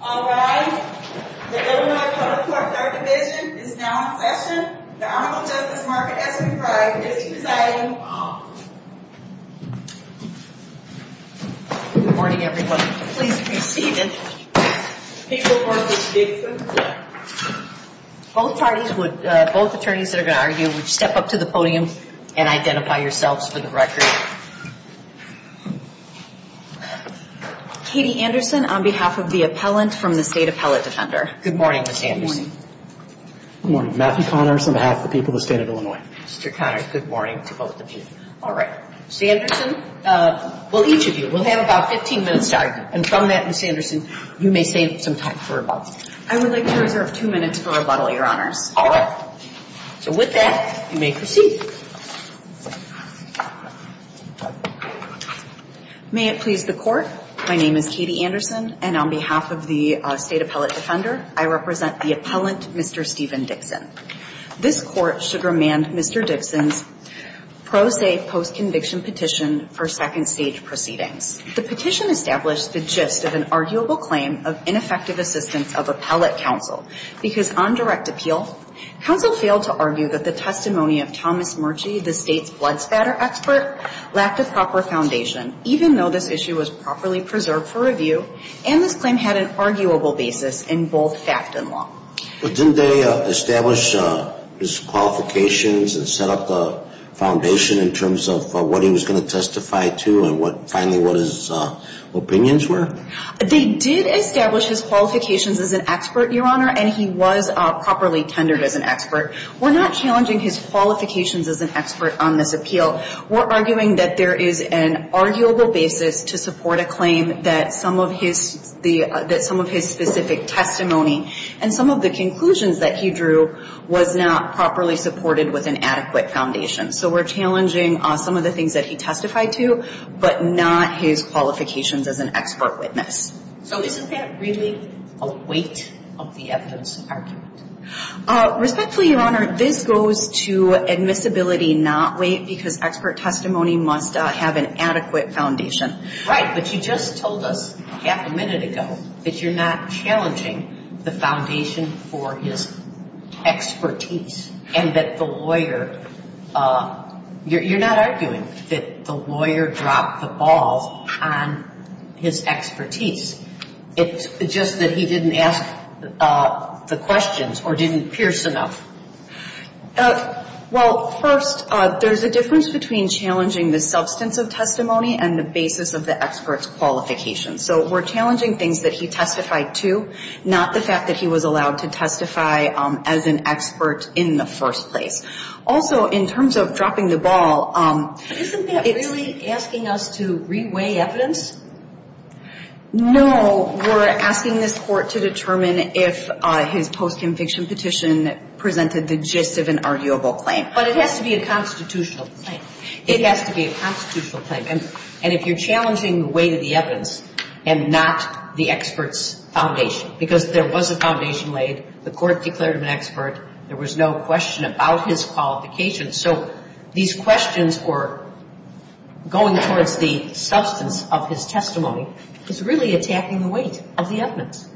All right. The Illinois Public Court Third Division is now in session. The Honorable Justice Margaret S. McBride is presiding. Good morning, everyone. Please be seated. Both parties would, both attorneys that are going to argue, would step up to the podium and identify yourselves for the record. Katie Anderson on behalf of the appellant from the State Appellate Defender. Good morning, Ms. Anderson. Good morning. Good morning. Matthew Connors on behalf of the people of the State of Illinois. Mr. Connors, good morning to both of you. All right. Ms. Anderson, will each of you, we'll have about 15 minutes to argue. And from that, Ms. Anderson, you may save some time for rebuttal. I would like to reserve two minutes for rebuttal, Your Honors. All right. So with that, you may proceed. May it please the Court, my name is Katie Anderson, and on behalf of the State Appellate Defender, I represent the appellant, Mr. Stephen Dixon. This Court should remand Mr. Dixon's pro se post-conviction petition for second stage proceedings. The petition established the gist of an arguable claim of ineffective assistance of appellate counsel, because on direct appeal, counsel failed to argue that the testimony of Thomas Murchie, the State's blood spatter expert, lacked a proper foundation, even though this issue was properly preserved for review, and this claim had an arguable basis in both fact and law. But didn't they establish his qualifications and set up a foundation in terms of what he was going to testify to, and finally what his opinions were? They did establish his qualifications as an expert, Your Honor, and he was properly tendered as an expert. We're not challenging his qualifications as an expert on this appeal. We're arguing that there is an arguable basis to support a claim that some of his specific testimony and some of the conclusions that he drew was not properly supported with an adequate foundation. So we're challenging some of the things that he testified to, but not his qualifications as an expert witness. So isn't that really a weight of the evidence argued? Respectfully, Your Honor, this goes to admissibility, not weight, because expert testimony must have an adequate foundation. Right, but you just told us half a minute ago that you're not challenging the foundation for his expertise and that the lawyer, you're not arguing that the lawyer dropped the ball on his expertise. It's just that he didn't ask the questions or didn't pierce enough. Well, first, there's a difference between challenging the substance of testimony and the basis of the expert's qualifications. So we're challenging things that he testified to, not the fact that he was allowed to testify as an expert in the first place. Also, in terms of dropping the ball, it's… Isn't that really asking us to re-weigh evidence? No, we're asking this Court to determine if his post-conviction petition presented the gist of an arguable claim. But it has to be a constitutional claim. It has to be a constitutional claim. And if you're challenging the weight of the evidence and not the expert's foundation, because there was a foundation laid, the Court declared him an expert, there was no question about his qualifications. So these questions were going towards the substance of his testimony. It's really attacking the weight of the evidence.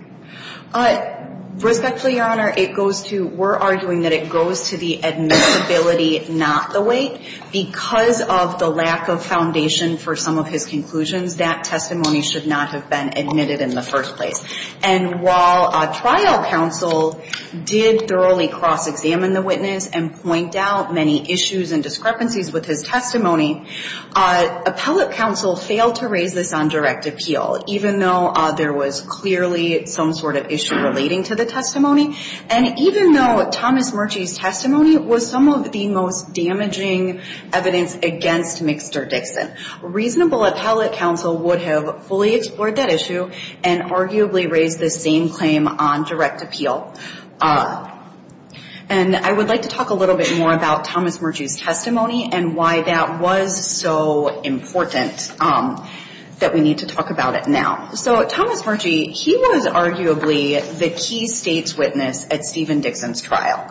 Respectfully, Your Honor, it goes to – we're arguing that it goes to the admissibility, not the weight. Because of the lack of foundation for some of his conclusions, that testimony should not have been admitted in the first place. And while trial counsel did thoroughly cross-examine the witness and point out many issues and discrepancies with his testimony, appellate counsel failed to raise this on direct appeal, even though there was clearly some sort of issue relating to the testimony. And even though Thomas Murchie's testimony was some of the most damaging evidence against Mixter Dixon, reasonable appellate counsel would have fully explored that issue and arguably raised the same claim on direct appeal. And I would like to talk a little bit more about Thomas Murchie's testimony and why that was so important that we need to talk about it now. So Thomas Murchie, he was arguably the key State's witness at Stephen Dixon's trial.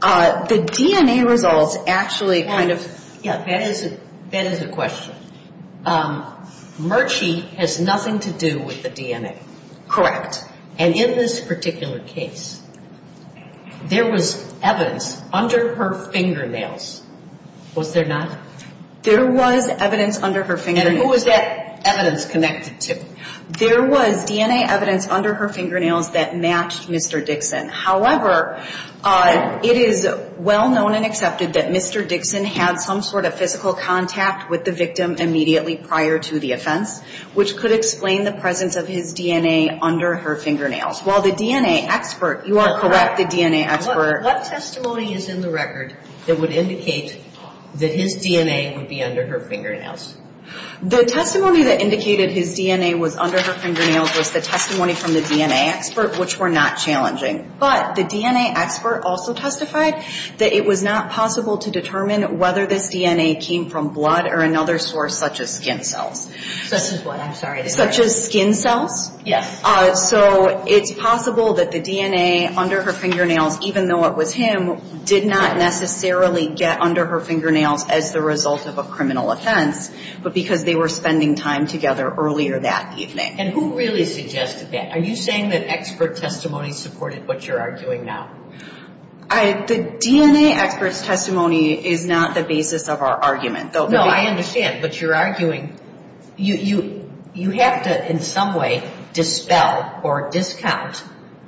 The DNA results actually kind of – That is a question. Murchie has nothing to do with the DNA. Correct. And in this particular case, there was evidence under her fingernails, was there not? There was evidence under her fingernails. And who was that evidence connected to? There was DNA evidence under her fingernails that matched Mixter Dixon. However, it is well known and accepted that Mixter Dixon had some sort of physical contact with the victim immediately prior to the offense, which could explain the presence of his DNA under her fingernails. While the DNA expert – you are correct, the DNA expert – What testimony is in the record that would indicate that his DNA would be under her fingernails? The testimony that indicated his DNA was under her fingernails was the testimony from the DNA expert, which were not challenging. But the DNA expert also testified that it was not possible to determine whether this DNA came from blood or another source such as skin cells. Such as what? I'm sorry. Such as skin cells. Yes. So it's possible that the DNA under her fingernails, even though it was him, did not necessarily get under her fingernails as the result of a criminal offense, but because they were spending time together earlier that evening. And who really suggested that? Are you saying that expert testimony supported what you're arguing now? The DNA expert's testimony is not the basis of our argument. No, I understand. But you're arguing – you have to in some way dispel or discount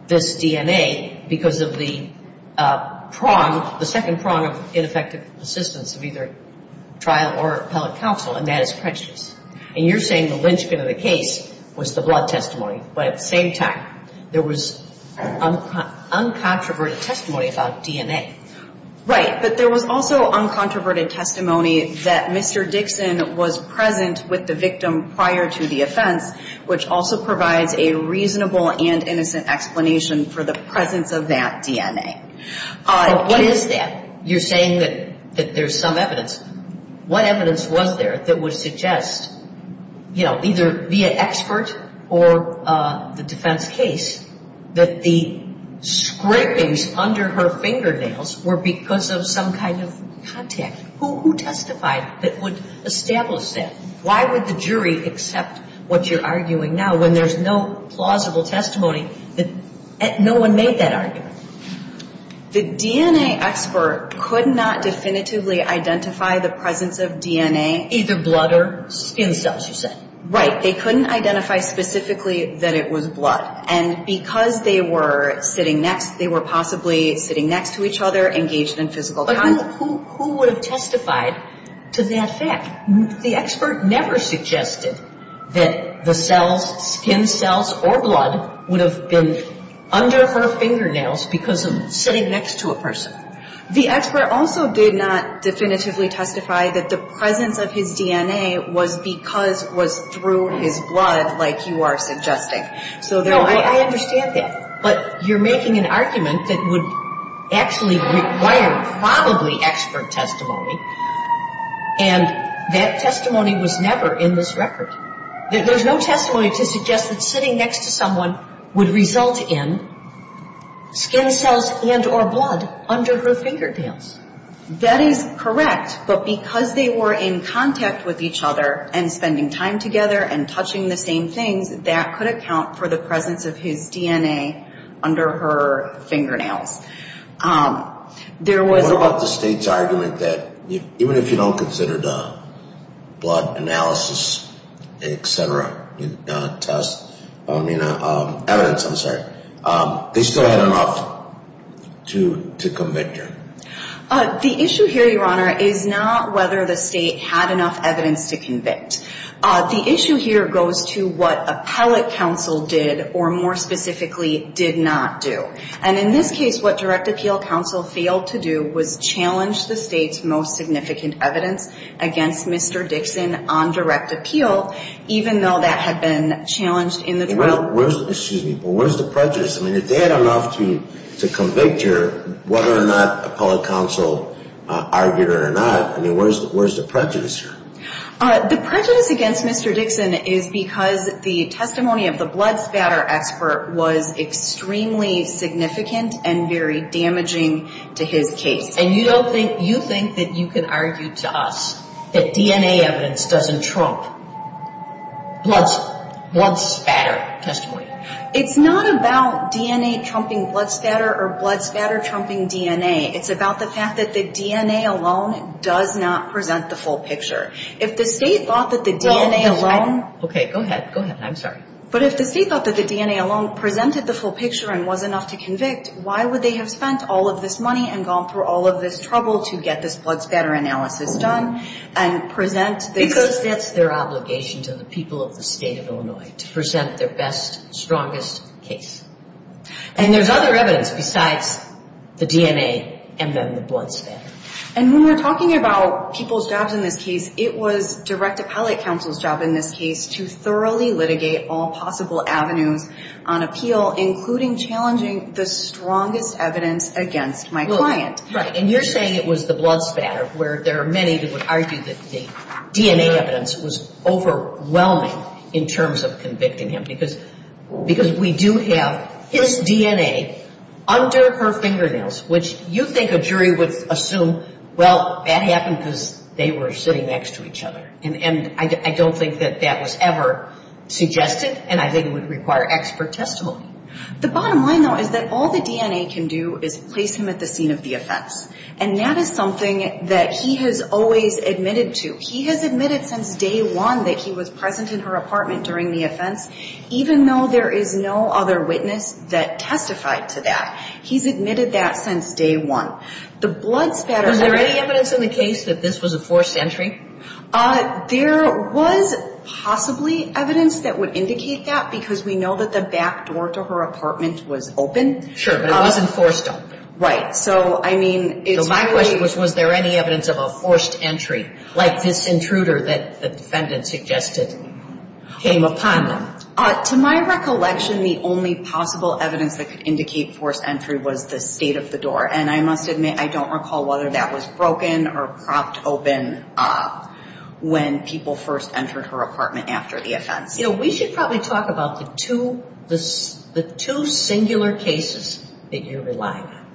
this DNA because of the prong, the second prong of ineffective assistance of either trial or appellate counsel, and that is prejudice. And you're saying the linchpin of the case was the blood testimony. But at the same time, there was uncontroverted testimony about DNA. Right. But there was also uncontroverted testimony that Mr. Dixon was present with the victim prior to the offense, which also provides a reasonable and innocent explanation for the presence of that DNA. But what is that? You're saying that there's some evidence. What evidence was there that would suggest, you know, either via expert or the defense case, that the scrapings under her fingernails were because of some kind of contact? Who testified that would establish that? Why would the jury accept what you're arguing now when there's no plausible testimony that no one made that argument? The DNA expert could not definitively identify the presence of DNA. Either blood or skin cells, you said. Right. They couldn't identify specifically that it was blood. And because they were sitting next, they were possibly sitting next to each other, engaged in physical contact. But who would have testified to that fact? The expert never suggested that the cells, skin cells or blood, would have been under her fingernails because of sitting next to a person. The expert also did not definitively testify that the presence of his DNA was because, was through his blood like you are suggesting. No, I understand that. But you're making an argument that would actually require probably expert testimony. And that testimony was never in this record. There's no testimony to suggest that sitting next to someone would result in skin cells and or blood under her fingernails. That is correct. But because they were in contact with each other and spending time together and touching the same things, that could account for the presence of his DNA under her fingernails. What about the state's argument that even if you don't consider the blood analysis, etc., test, evidence, I'm sorry, they still had enough to convict her? The issue here, Your Honor, is not whether the state had enough evidence to convict. The issue here goes to what appellate counsel did or, more specifically, did not do. And in this case, what direct appeal counsel failed to do was challenge the state's most significant evidence against Mr. Dixon on direct appeal, even though that had been challenged in the trial. Excuse me, but where's the prejudice? I mean, if they had enough to convict her, whether or not appellate counsel argued it or not, I mean, where's the prejudice here? The prejudice against Mr. Dixon is because the testimony of the blood spatter expert was extremely significant and very damaging to his case. And you don't think, you think that you can argue to us that DNA evidence doesn't trump blood spatter testimony? It's not about DNA trumping blood spatter or blood spatter trumping DNA. It's about the fact that the DNA alone does not present the full picture. If the state thought that the DNA alone... Okay, go ahead. Go ahead. I'm sorry. But if the state thought that the DNA alone presented the full picture and was enough to convict, why would they have spent all of this money and gone through all of this trouble to get this blood spatter analysis done and present... Because that's their obligation to the people of the state of Illinois, to present their best, strongest case. And there's other evidence besides the DNA and then the blood spatter. And when we're talking about people's jobs in this case, it was direct appellate counsel's job in this case to thoroughly litigate all possible avenues on appeal, including challenging the strongest evidence against my client. Right. And you're saying it was the blood spatter where there are many that would argue that the DNA evidence was overwhelming in terms of convicting him. Because we do have his DNA under her fingernails, which you think a jury would assume, well, that happened because they were sitting next to each other. And I don't think that that was ever suggested, and I think it would require expert testimony. The bottom line, though, is that all the DNA can do is place him at the scene of the offense. And that is something that he has always admitted to. He has admitted since day one that he was present in her apartment during the offense, even though there is no other witness that testified to that. He's admitted that since day one. The blood spatter. Was there any evidence in the case that this was a forced entry? There was possibly evidence that would indicate that because we know that the back door to her apartment was open. Sure, but it wasn't forced open. Right. So, I mean, it's really. Was there any evidence of a forced entry, like this intruder that the defendant suggested came upon them? To my recollection, the only possible evidence that could indicate forced entry was the state of the door. And I must admit, I don't recall whether that was broken or propped open when people first entered her apartment after the offense. You know, we should probably talk about the two singular cases that you're relying on.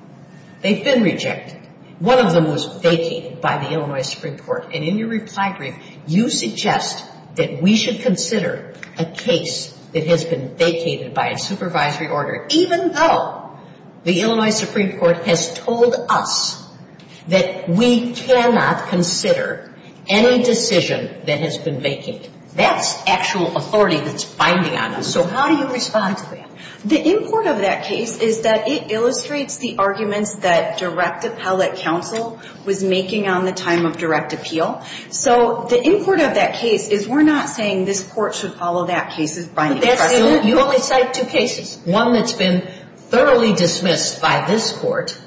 They've been rejected. One of them was vacated by the Illinois Supreme Court. And in your reply brief, you suggest that we should consider a case that has been vacated by a supervisory order, even though the Illinois Supreme Court has told us that we cannot consider any decision that has been vacated. That's actual authority that's binding on us. So how do you respond to that? The import of that case is that it illustrates the arguments that direct appellate counsel was making on the time of direct appeal. So the import of that case is we're not saying this court should follow that case as binding. You only cite two cases, one that's been thoroughly dismissed by this court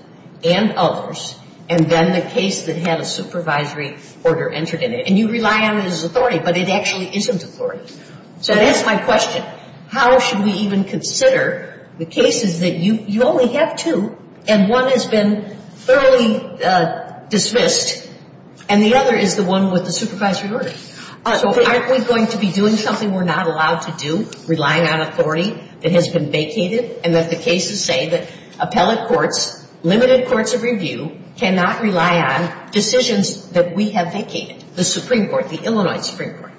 and others, and then the case that had a supervisory order entered in it. And you rely on it as authority, but it actually isn't authority. So to answer my question, how should we even consider the cases that you only have two and one has been thoroughly dismissed and the other is the one with the supervisory order? So aren't we going to be doing something we're not allowed to do, relying on authority that has been vacated, and that the cases say that appellate courts, limited courts of review, cannot rely on decisions that we have vacated, the Supreme Court, the Illinois Supreme Court?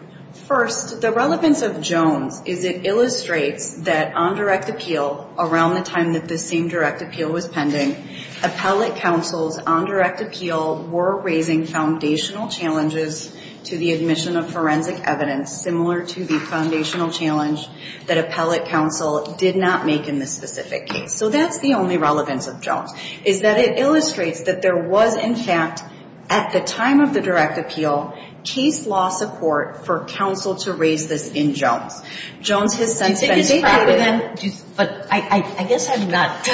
First, the relevance of Jones is it illustrates that on direct appeal, around the time that this same direct appeal was pending, appellate counsel's on direct appeal were raising foundational challenges to the admission of forensic evidence, similar to the foundational challenge that appellate counsel did not make in this specific case. So that's the only relevance of Jones, is that it illustrates that there was, in fact, at the time of the direct appeal, case law support for counsel to raise this in Jones. Jones has since been proud of it. But I guess I'm not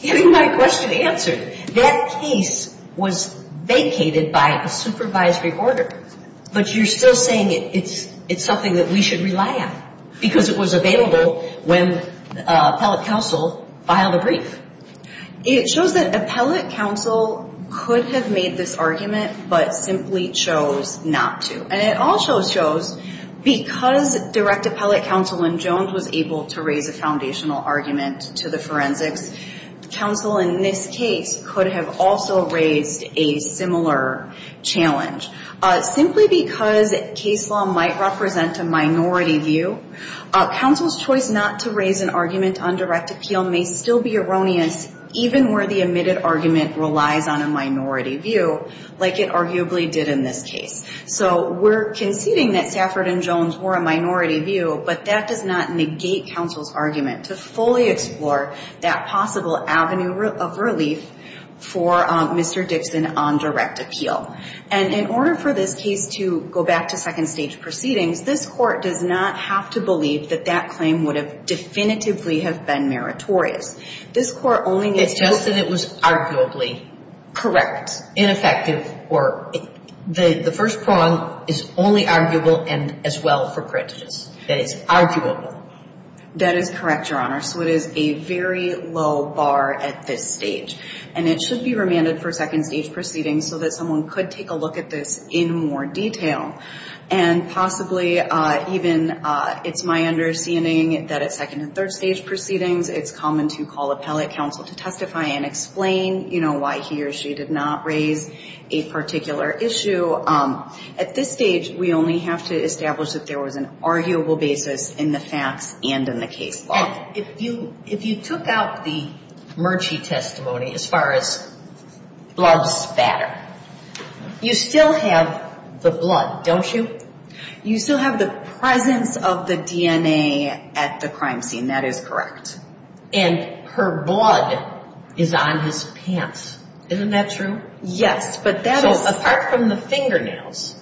getting my question answered. That case was vacated by a supervisory order, but you're still saying it's something that we should rely on, because it was available when appellate counsel filed a brief. It shows that appellate counsel could have made this argument, but simply chose not to. And it also shows, because direct appellate counsel in Jones was able to raise a foundational argument to the forensics, counsel in this case could have also raised a similar challenge. Simply because case law might represent a minority view, counsel's choice not to raise an argument on direct appeal may still be erroneous, even where the admitted argument relies on a minority view, like it arguably did in this case. So we're conceding that Safford and Jones were a minority view, but that does not negate counsel's argument to fully explore that possible avenue of relief for Mr. Dixon on direct appeal. And in order for this case to go back to second stage proceedings, this Court does not have to believe that that claim would have definitively have been meritorious. This Court only needs to... It's just that it was arguably correct, ineffective, or the first prong is only arguable and as well for prejudice. That it's arguable. That is correct, Your Honor. So it is a very low bar at this stage. And it should be remanded for second stage proceedings so that someone could take a look at this in more detail. And possibly even it's my understanding that at second and third stage proceedings, it's common to call appellate counsel to testify and explain, you know, why he or she did not raise a particular issue. At this stage, we only have to establish that there was an arguable basis in the facts and in the case law. If you took out the Murchie testimony as far as love spatter, you still have the blood, don't you? You still have the presence of the DNA at the crime scene. That is correct. And her blood is on his pants. Isn't that true? Yes, but that is... So apart from the fingernails,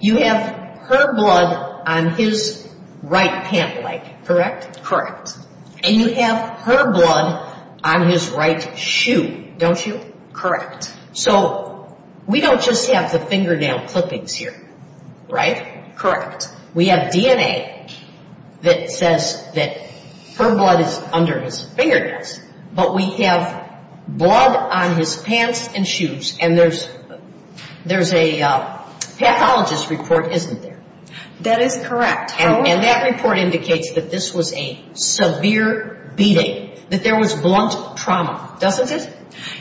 you have her blood on his right pant leg, correct? Correct. And you have her blood on his right shoe, don't you? Correct. So we don't just have the fingernail clippings here, right? Correct. We have DNA that says that her blood is under his fingernails. But we have blood on his pants and shoes, and there's a pathologist report, isn't there? That is correct, Your Honor. And that report indicates that this was a severe beating, that there was blunt trauma, doesn't it?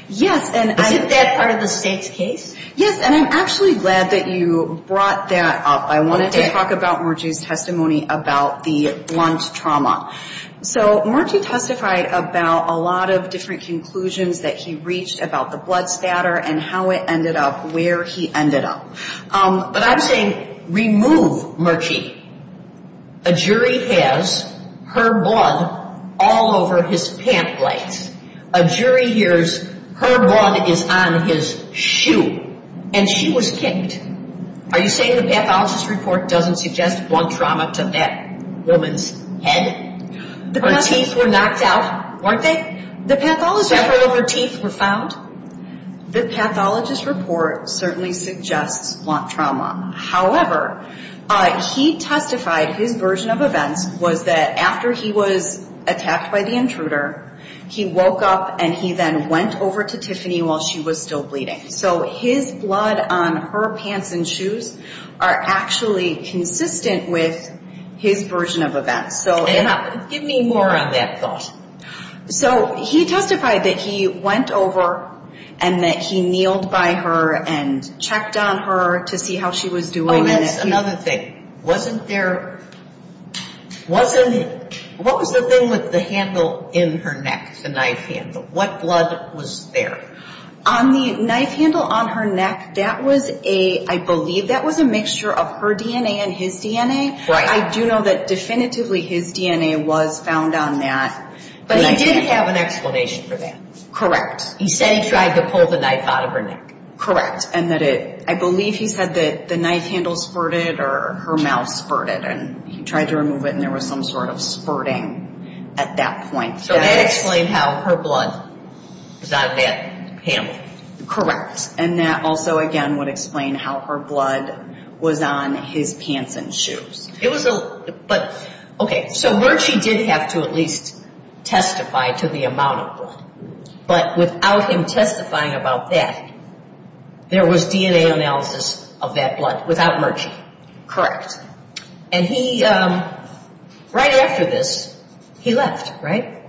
Yes, and I... Isn't that part of the state's case? Yes, and I'm actually glad that you brought that up. I wanted to talk about Murchie's testimony about the blunt trauma. So Murchie testified about a lot of different conclusions that he reached about the blood spatter and how it ended up where he ended up. But I'm saying remove Murchie. A jury has her blood all over his pant legs. A jury hears her blood is on his shoe, and she was kicked. Are you saying the pathologist report doesn't suggest blunt trauma to that woman's head? Her teeth were knocked out, weren't they? The pathologist report... Several of her teeth were found. The pathologist report certainly suggests blunt trauma. However, he testified his version of events was that after he was attacked by the intruder, he woke up and he then went over to Tiffany while she was still bleeding. So his blood on her pants and shoes are actually consistent with his version of events. Give me more on that thought. So he testified that he went over and that he kneeled by her and checked on her to see how she was doing. Oh, that's another thing. Wasn't there... Wasn't... What was the thing with the handle in her neck, the knife handle? What blood was there? On the knife handle on her neck, that was a... I believe that was a mixture of her DNA and his DNA. Right. I do know that definitively his DNA was found on that. But he did have an explanation for that. Correct. He said he tried to pull the knife out of her neck. Correct. And that it... I believe he said that the knife handle spurted or her mouth spurted and he tried to remove it and there was some sort of spurting at that point. So that explained how her blood was on that handle. Correct. And that also, again, would explain how her blood was on his pants and shoes. It was a... But, okay, so Murchie did have to at least testify to the amount of blood. But without him testifying about that, there was DNA analysis of that blood without Murchie. Correct. And he, right after this, he left, right?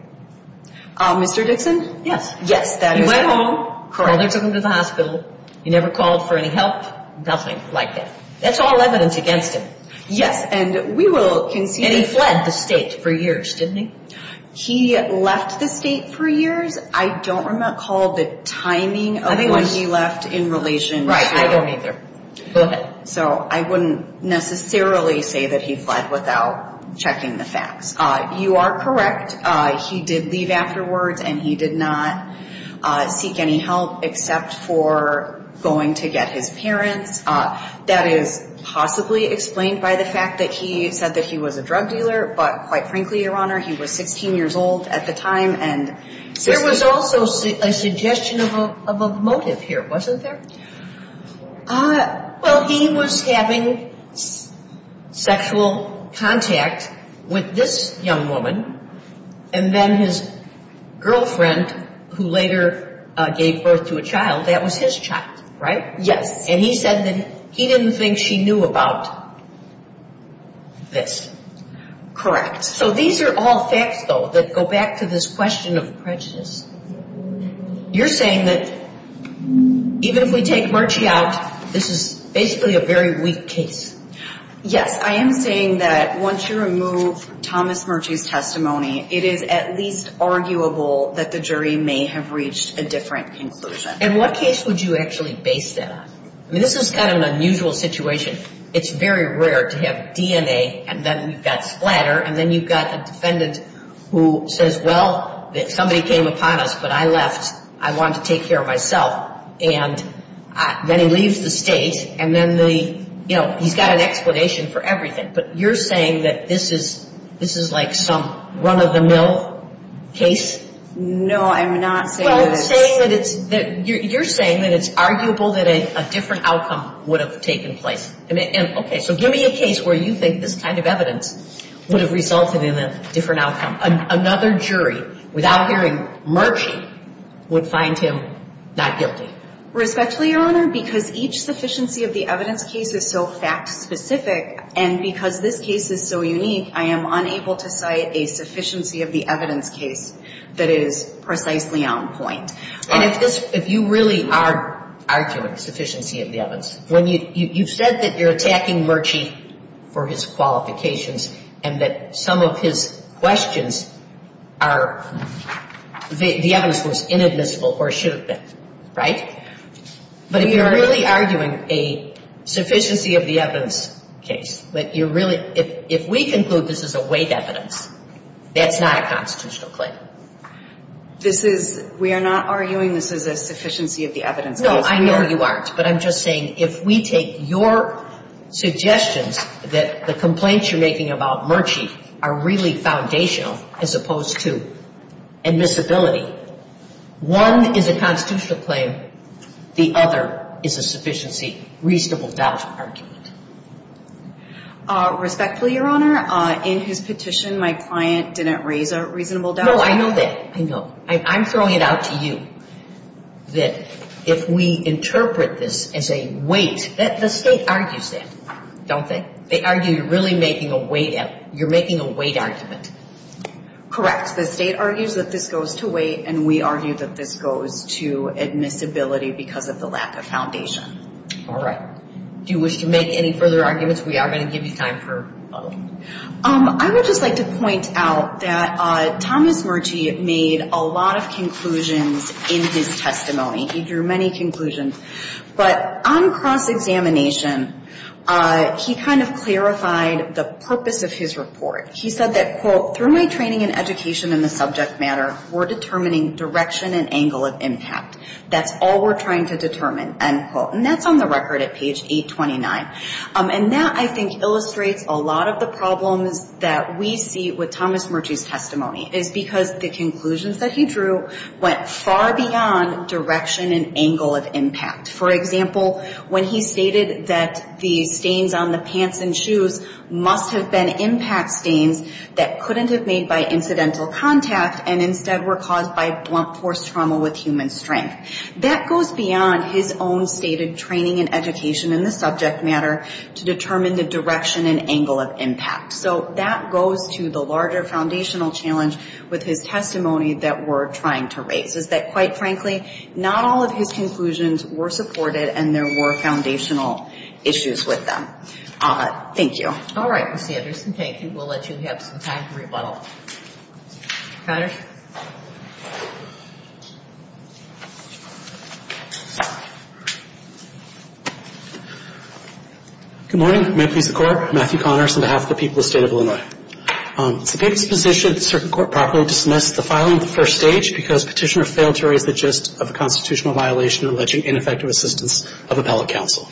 Mr. Dixon? Yes. Yes, that is... He went home. Correct. Mother took him to the hospital. He never called for any help. Nothing like that. That's all evidence against him. Yes. And we will concede... And he fled the state for years, didn't he? He left the state for years. I don't recall the timing of when he left in relation to... Right. I don't either. Go ahead. So I wouldn't necessarily say that he fled without checking the facts. You are correct. He did leave afterwards and he did not seek any help except for going to get his parents. That is possibly explained by the fact that he said that he was a drug dealer, but quite frankly, Your Honor, he was 16 years old at the time and... There was also a suggestion of a motive here, wasn't there? Well, he was having sexual contact with this young woman and then his girlfriend, who later gave birth to a child, that was his child, right? Yes. And he said that he didn't think she knew about this. Correct. So these are all facts, though, that go back to this question of prejudice. You're saying that even if we take Murchie out, this is basically a very weak case. Yes. I am saying that once you remove Thomas Murchie's testimony, it is at least arguable that the jury may have reached a different conclusion. And what case would you actually base that on? I mean, this is kind of an unusual situation. It's very rare to have DNA and then you've got splatter and then you've got a defendant who says, well, somebody came upon us, but I left. I wanted to take care of myself. And then he leaves the state and then he's got an explanation for everything. But you're saying that this is like some run-of-the-mill case? No, I'm not saying that. You're saying that it's arguable that a different outcome would have taken place. Okay, so give me a case where you think this kind of evidence would have resulted in a different outcome. Another jury, without hearing Murchie, would find him not guilty. Respectfully, Your Honor, because each sufficiency of the evidence case is so fact-specific and because this case is so unique, I am unable to cite a sufficiency of the evidence case that is precisely on point. And if you really are arguing sufficiency of the evidence, you've said that you're attacking Murchie for his qualifications and that some of his questions are the evidence was inadmissible or should have been, right? But if you're really arguing a sufficiency of the evidence case, if we conclude this is a weight evidence, that's not a constitutional claim. We are not arguing this is a sufficiency of the evidence case. No, I know you aren't. But I'm just saying if we take your suggestions that the complaints you're making about Murchie are really foundational as opposed to admissibility, one is a constitutional claim, the other is a sufficiency reasonable doubt argument. Respectfully, Your Honor, in his petition, my client didn't raise a reasonable doubt. No, I know that. I know. I'm throwing it out to you that if we interpret this as a weight, the State argues that, don't they? They argue you're making a weight argument. Correct. The State argues that this goes to weight, and we argue that this goes to admissibility because of the lack of foundation. All right. Do you wish to make any further arguments? We are going to give you time for a little. I would just like to point out that Thomas Murchie made a lot of conclusions in his testimony. He drew many conclusions. But on cross-examination, he kind of clarified the purpose of his report. He said that, quote, Through my training and education in the subject matter, we're determining direction and angle of impact. That's all we're trying to determine, end quote. And that's on the record at page 829. And that, I think, illustrates a lot of the problems that we see with Thomas Murchie's testimony, is because the conclusions that he drew went far beyond direction and angle of impact. For example, when he stated that the stains on the pants and shoes must have been impact stains that couldn't have been made by incidental contact, and instead were caused by blunt force trauma with human strength. That goes beyond his own stated training and education in the subject matter to determine the direction and angle of impact. So that goes to the larger foundational challenge with his testimony that we're trying to raise, is that, quite frankly, not all of his conclusions were supported, and there were foundational issues with them. Thank you. All right, Ms. Sanderson. Thank you. We'll let you have some time to rebuttal. Patrick. Good morning. Members of the Court, Matthew Connors on behalf of the people of the State of Illinois. It's the case position that the Circuit Court properly dismissed the filing of the first stage because Petitioner failed to raise the gist of a constitutional violation alleging ineffective assistance of appellate counsel.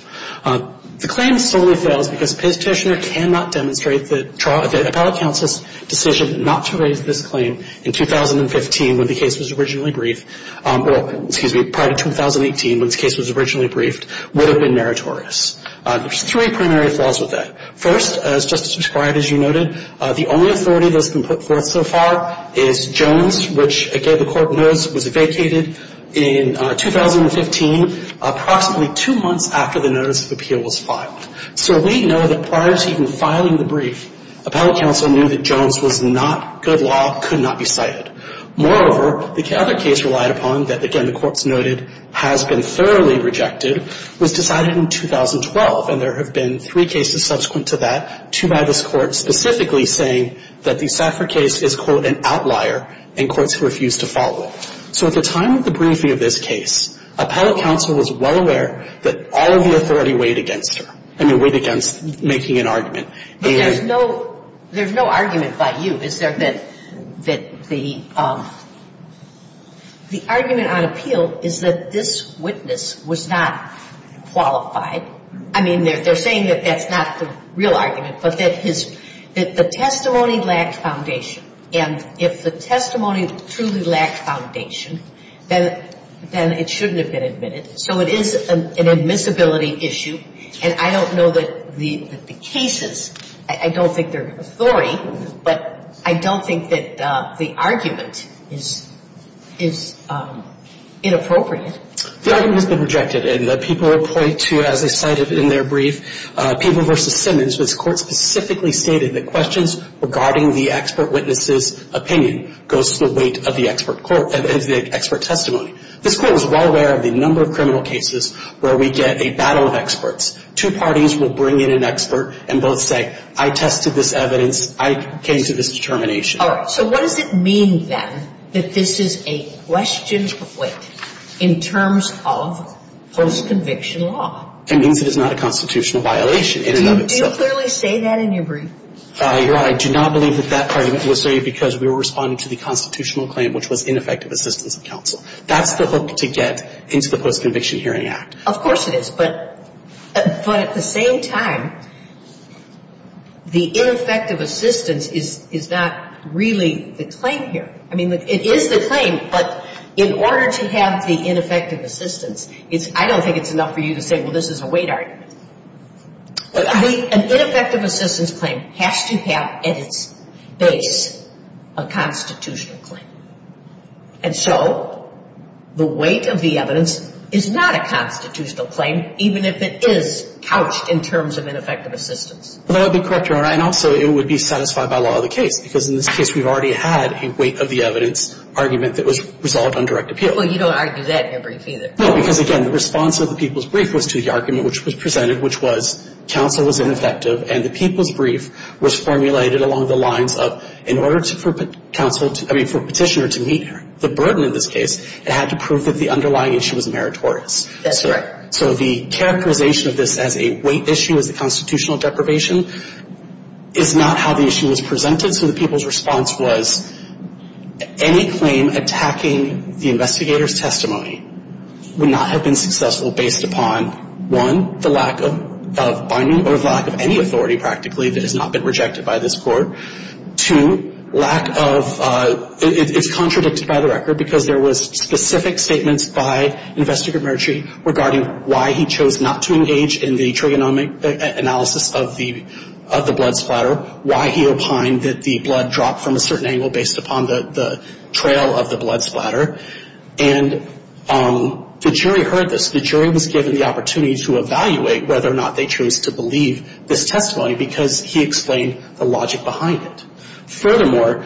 The claim solely fails because Petitioner cannot demonstrate that appellate counsel's decision not to raise this claim in 2015 when the case was originally briefed, or, excuse me, prior to 2018 when the case was originally briefed, would have been meritorious. There's three primary flaws with that. First, as Justice Breyer, as you noted, the only authority that's been put forth so far is Jones, which, again, the Court knows was vacated in 2015, approximately two months after the notice of appeal was filed. So we know that prior to even filing the brief, appellate counsel knew that Jones was not good law, could not be cited. Moreover, the other case relied upon that, again, the Court's noted has been thoroughly rejected, was decided in 2012, and there have been three cases subsequent to that, two by this Court specifically saying that the Safra case is, quote, an outlier in courts who refuse to follow it. So at the time of the briefing of this case, appellate counsel was well aware that all of the authority weighed against her. I mean, weighed against making an argument. But there's no argument by you. Is there that the argument on appeal is that this witness was not qualified? I mean, they're saying that that's not the real argument, but that the testimony lacked foundation. And if the testimony truly lacked foundation, then it shouldn't have been admitted. So it is an admissibility issue. And I don't know that the cases, I don't think they're authority, but I don't think that the argument is inappropriate. The argument has been rejected. And the people will point to, as I cited in their brief, People v. Simmons, this Court specifically stated that questions regarding the expert witness's opinion goes to the weight of the expert court, of the expert testimony. This Court was well aware of the number of criminal cases where we get a battle of experts. Two parties will bring in an expert and both say, I tested this evidence. I came to this determination. All right. So what does it mean, then, that this is a question of weight in terms of post-conviction law? It means it is not a constitutional violation in and of itself. And do you clearly say that in your brief? Your Honor, I do not believe that that argument was studied because we were responding to the constitutional claim, which was ineffective assistance of counsel. That's the hook to get into the Post-Conviction Hearing Act. Of course it is. But at the same time, the ineffective assistance is not really the claim here. I mean, it is the claim, but in order to have the ineffective assistance, I don't think it's enough for you to say, well, this is a weight argument. An ineffective assistance claim has to have at its base a constitutional claim. And so the weight of the evidence is not a constitutional claim, even if it is couched in terms of ineffective assistance. That would be correct, Your Honor. And also it would be satisfied by law of the case, because in this case we've already had a weight of the evidence argument that was resolved on direct appeal. Well, you don't argue that in your brief either. No, because, again, the response of the people's brief was to the argument which was presented, which was counsel was ineffective, and the people's brief was formulated along the lines of, in order for counsel to, I mean, for a petitioner to meet the burden in this case, it had to prove that the underlying issue was meritorious. That's right. So the characterization of this as a weight issue, as a constitutional deprivation, is not how the issue was presented. And so the people's response was any claim attacking the investigator's testimony would not have been successful based upon, one, the lack of binding or the lack of any authority practically that has not been rejected by this court. Two, lack of – it's contradicted by the record, because there was specific statements by Investigator Murtry regarding why he chose not to engage in the case. He said that the blood dropped from a certain angle based upon the trail of the blood splatter. And the jury heard this. The jury was given the opportunity to evaluate whether or not they chose to believe this testimony, because he explained the logic behind it. Furthermore,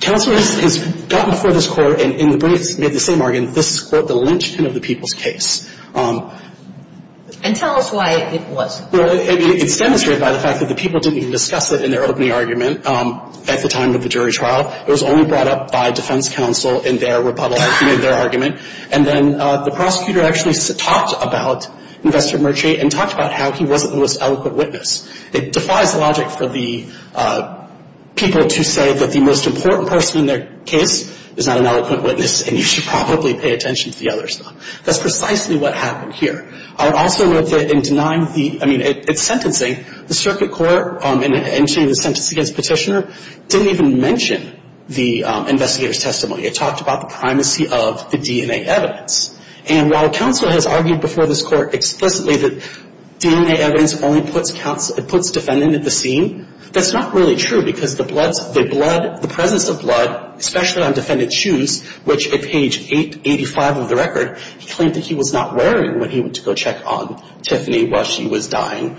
counsel has gotten before this court and in the brief made the same argument. This is, quote, the lynchpin of the people's case. And tell us why it wasn't. Well, it's demonstrated by the fact that the people didn't even discuss it in their opening argument at the time of the jury trial. It was only brought up by defense counsel in their rebuttal, in their argument. And then the prosecutor actually talked about Investigator Murtry and talked about how he wasn't the most eloquent witness. It defies logic for the people to say that the most important person in their case is not an eloquent witness and you should probably pay attention to the other stuff. That's precisely what happened here. I would also note that in denying the – I mean, it's sentencing. The circuit court, in mentioning the sentence against Petitioner, didn't even mention the investigator's testimony. It talked about the primacy of the DNA evidence. And while counsel has argued before this court explicitly that DNA evidence only puts counsel – puts defendant at the scene, that's not really true because the blood – the presence of blood, especially on defendant's shoes, which at page 885 of the record, he claimed that he was not wearing when he went to go check on Tiffany while she was dying,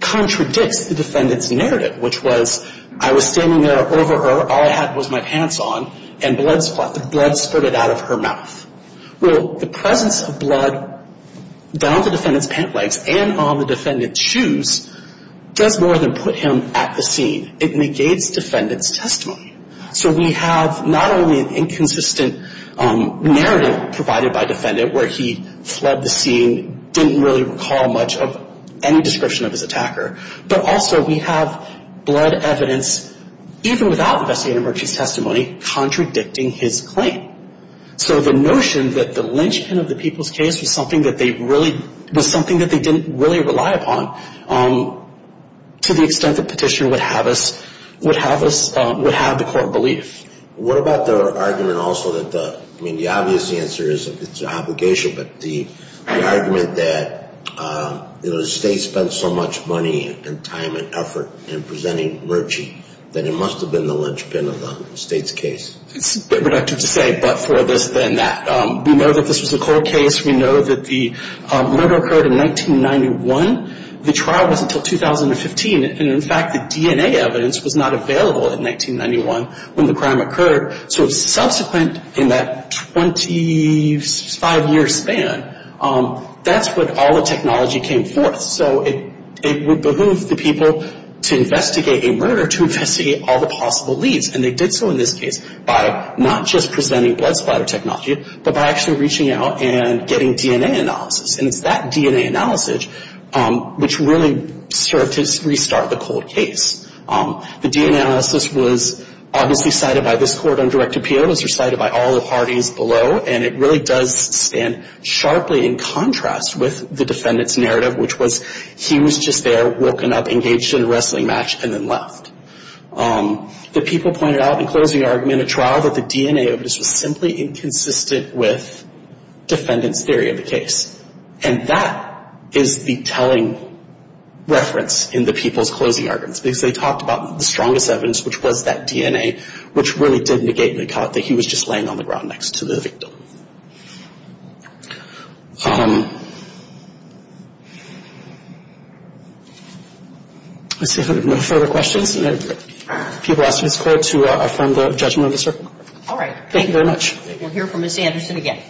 contradicts the defendant's narrative, which was, I was standing there over her, all I had was my pants on, and blood spurted out of her mouth. Well, the presence of blood down the defendant's pant legs and on the defendant's shoes does more than put him at the scene. It negates defendant's testimony. So we have not only an inconsistent narrative provided by defendant where he fled the scene, didn't really recall much of any description of his attacker, but also we have blood evidence, even without the investigator's testimony, contradicting his claim. So the notion that the lynchpin of the people's case was something that they really – was something that they didn't really rely upon to the extent that the court believed. What about the argument also that the – I mean, the obvious answer is it's an obligation, but the argument that, you know, the state spent so much money and time and effort in presenting Murchie that it must have been the lynchpin of the state's case. It's a bit reductive to say, but for this then that we know that this was the court case. We know that the murder occurred in 1991. The trial was until 2015, and in fact the DNA evidence was not available in 1991 when the crime occurred. So subsequent in that 25-year span, that's when all the technology came forth. So it would behoove the people to investigate a murder to investigate all the possible leads. And they did so in this case by not just presenting blood splatter technology, but by actually reaching out and getting DNA analysis. And it's that DNA analysis which really served to restart the cold case. The DNA analysis was obviously cited by this court on direct appeal. It was recited by all the parties below. And it really does stand sharply in contrast with the defendant's narrative, which was he was just there, woken up, engaged in a wrestling match, and then left. The people pointed out in closing argument at trial that the DNA evidence was simply inconsistent with defendant's theory of the case. And that is the telling reference in the people's closing arguments. Because they talked about the strongest evidence, which was that DNA, which really did negate the thought that he was just laying on the ground next to the victim. Let's see if there are no further questions. If people ask this court to affirm the judgment of the circuit. All right. Thank you very much. We'll hear from Ms. Anderson again.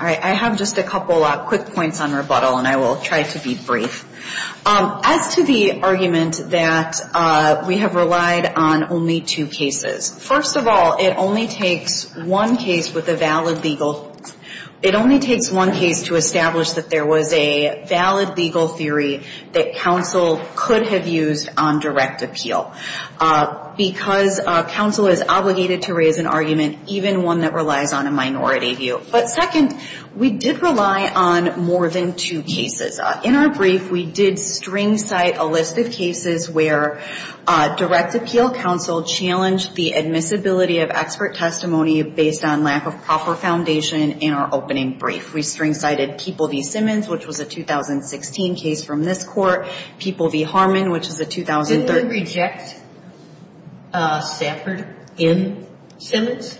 All right. I have just a couple quick points on rebuttal. And I will try to be brief. As to the argument that we have relied on only two cases. First of all, it only takes one case with a valid legal. It only takes one case to establish that there was a valid legal theory that counsel could have used on direct appeal. Because counsel is obligated to raise an argument, even one that relies on a minority view. But second, we did rely on more than two cases. In our brief, we did string site a list of cases where direct appeal counsel challenged the admissibility of expert testimony based on lack of proper foundation in our opening brief. We string cited People v. Simmons, which was a 2016 case from this court. People v. Harmon, which is a 2003. Didn't we reject Stafford in Simmons?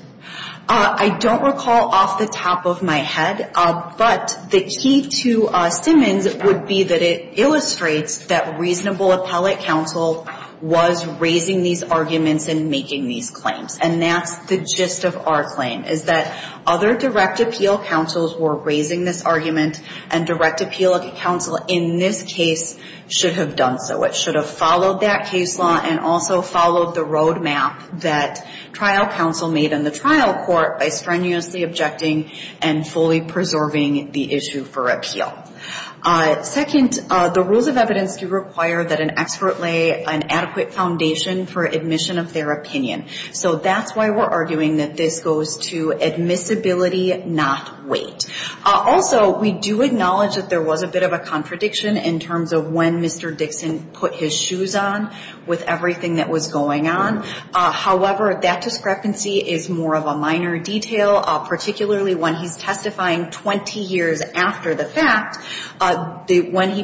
I don't recall off the top of my head. But the key to Simmons would be that it illustrates that reasonable appellate counsel was raising these arguments and making these claims. And that's the gist of our claim. Is that other direct appeal counsels were raising this argument and direct appeal counsel in this case should have done so. It should have followed that case law and also followed the road map that trial counsel made in the trial court by strenuously objecting and fully preserving the issue for appeal. Second, the rules of evidence do require that an expert lay an adequate foundation for admission of their opinion. So that's why we're arguing that this goes to admissibility, not weight. Also, we do acknowledge that there was a bit of a contradiction in terms of when Mr. Dixon put his shoes on with everything that was going on. However, that discrepancy is more of a minor detail, particularly when he's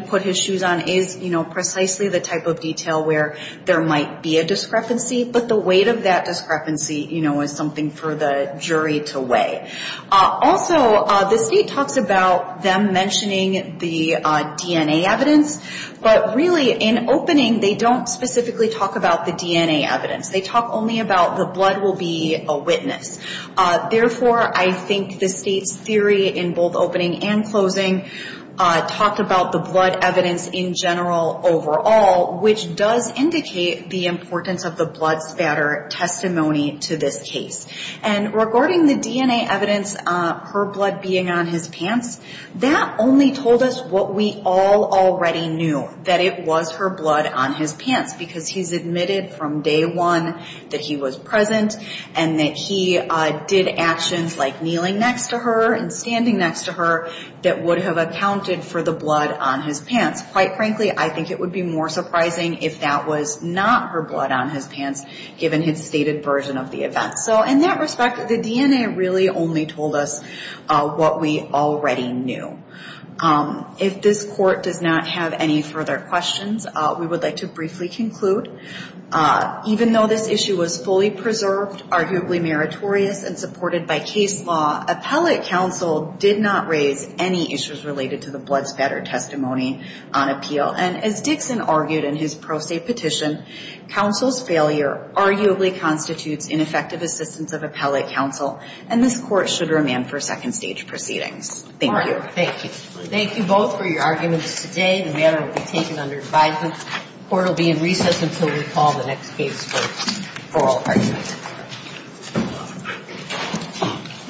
put his shoes on is precisely the type of detail where there might be a discrepancy. But the weight of that discrepancy is something for the jury to weigh. Also, the state talks about them mentioning the DNA evidence. But really, in opening, they don't specifically talk about the DNA evidence. They talk only about the blood will be a witness. Therefore, I think the state's theory in both opening and closing talked about the blood evidence in general overall, which does indicate the importance of the blood spatter testimony to this case. And regarding the DNA evidence, her blood being on his pants, that only told us what we all already knew, that it was her blood on his pants because he's present and that he did actions like kneeling next to her and standing next to her that would have accounted for the blood on his pants. Quite frankly, I think it would be more surprising if that was not her blood on his pants, given his stated version of the event. So in that respect, the DNA really only told us what we already knew. If this court does not have any further questions, we would like to briefly conclude, even though this issue was fully preserved, arguably meritorious and supported by case law, appellate counsel did not raise any issues related to the blood spatter testimony on appeal. And as Dixon argued in his pro se petition, counsel's failure arguably constitutes ineffective assistance of appellate counsel, and this court should remand for second stage proceedings. Thank you. Thank you both for your arguments today. The matter will be taken under advisement. The court will be in recess until we call the next case for oral arguments.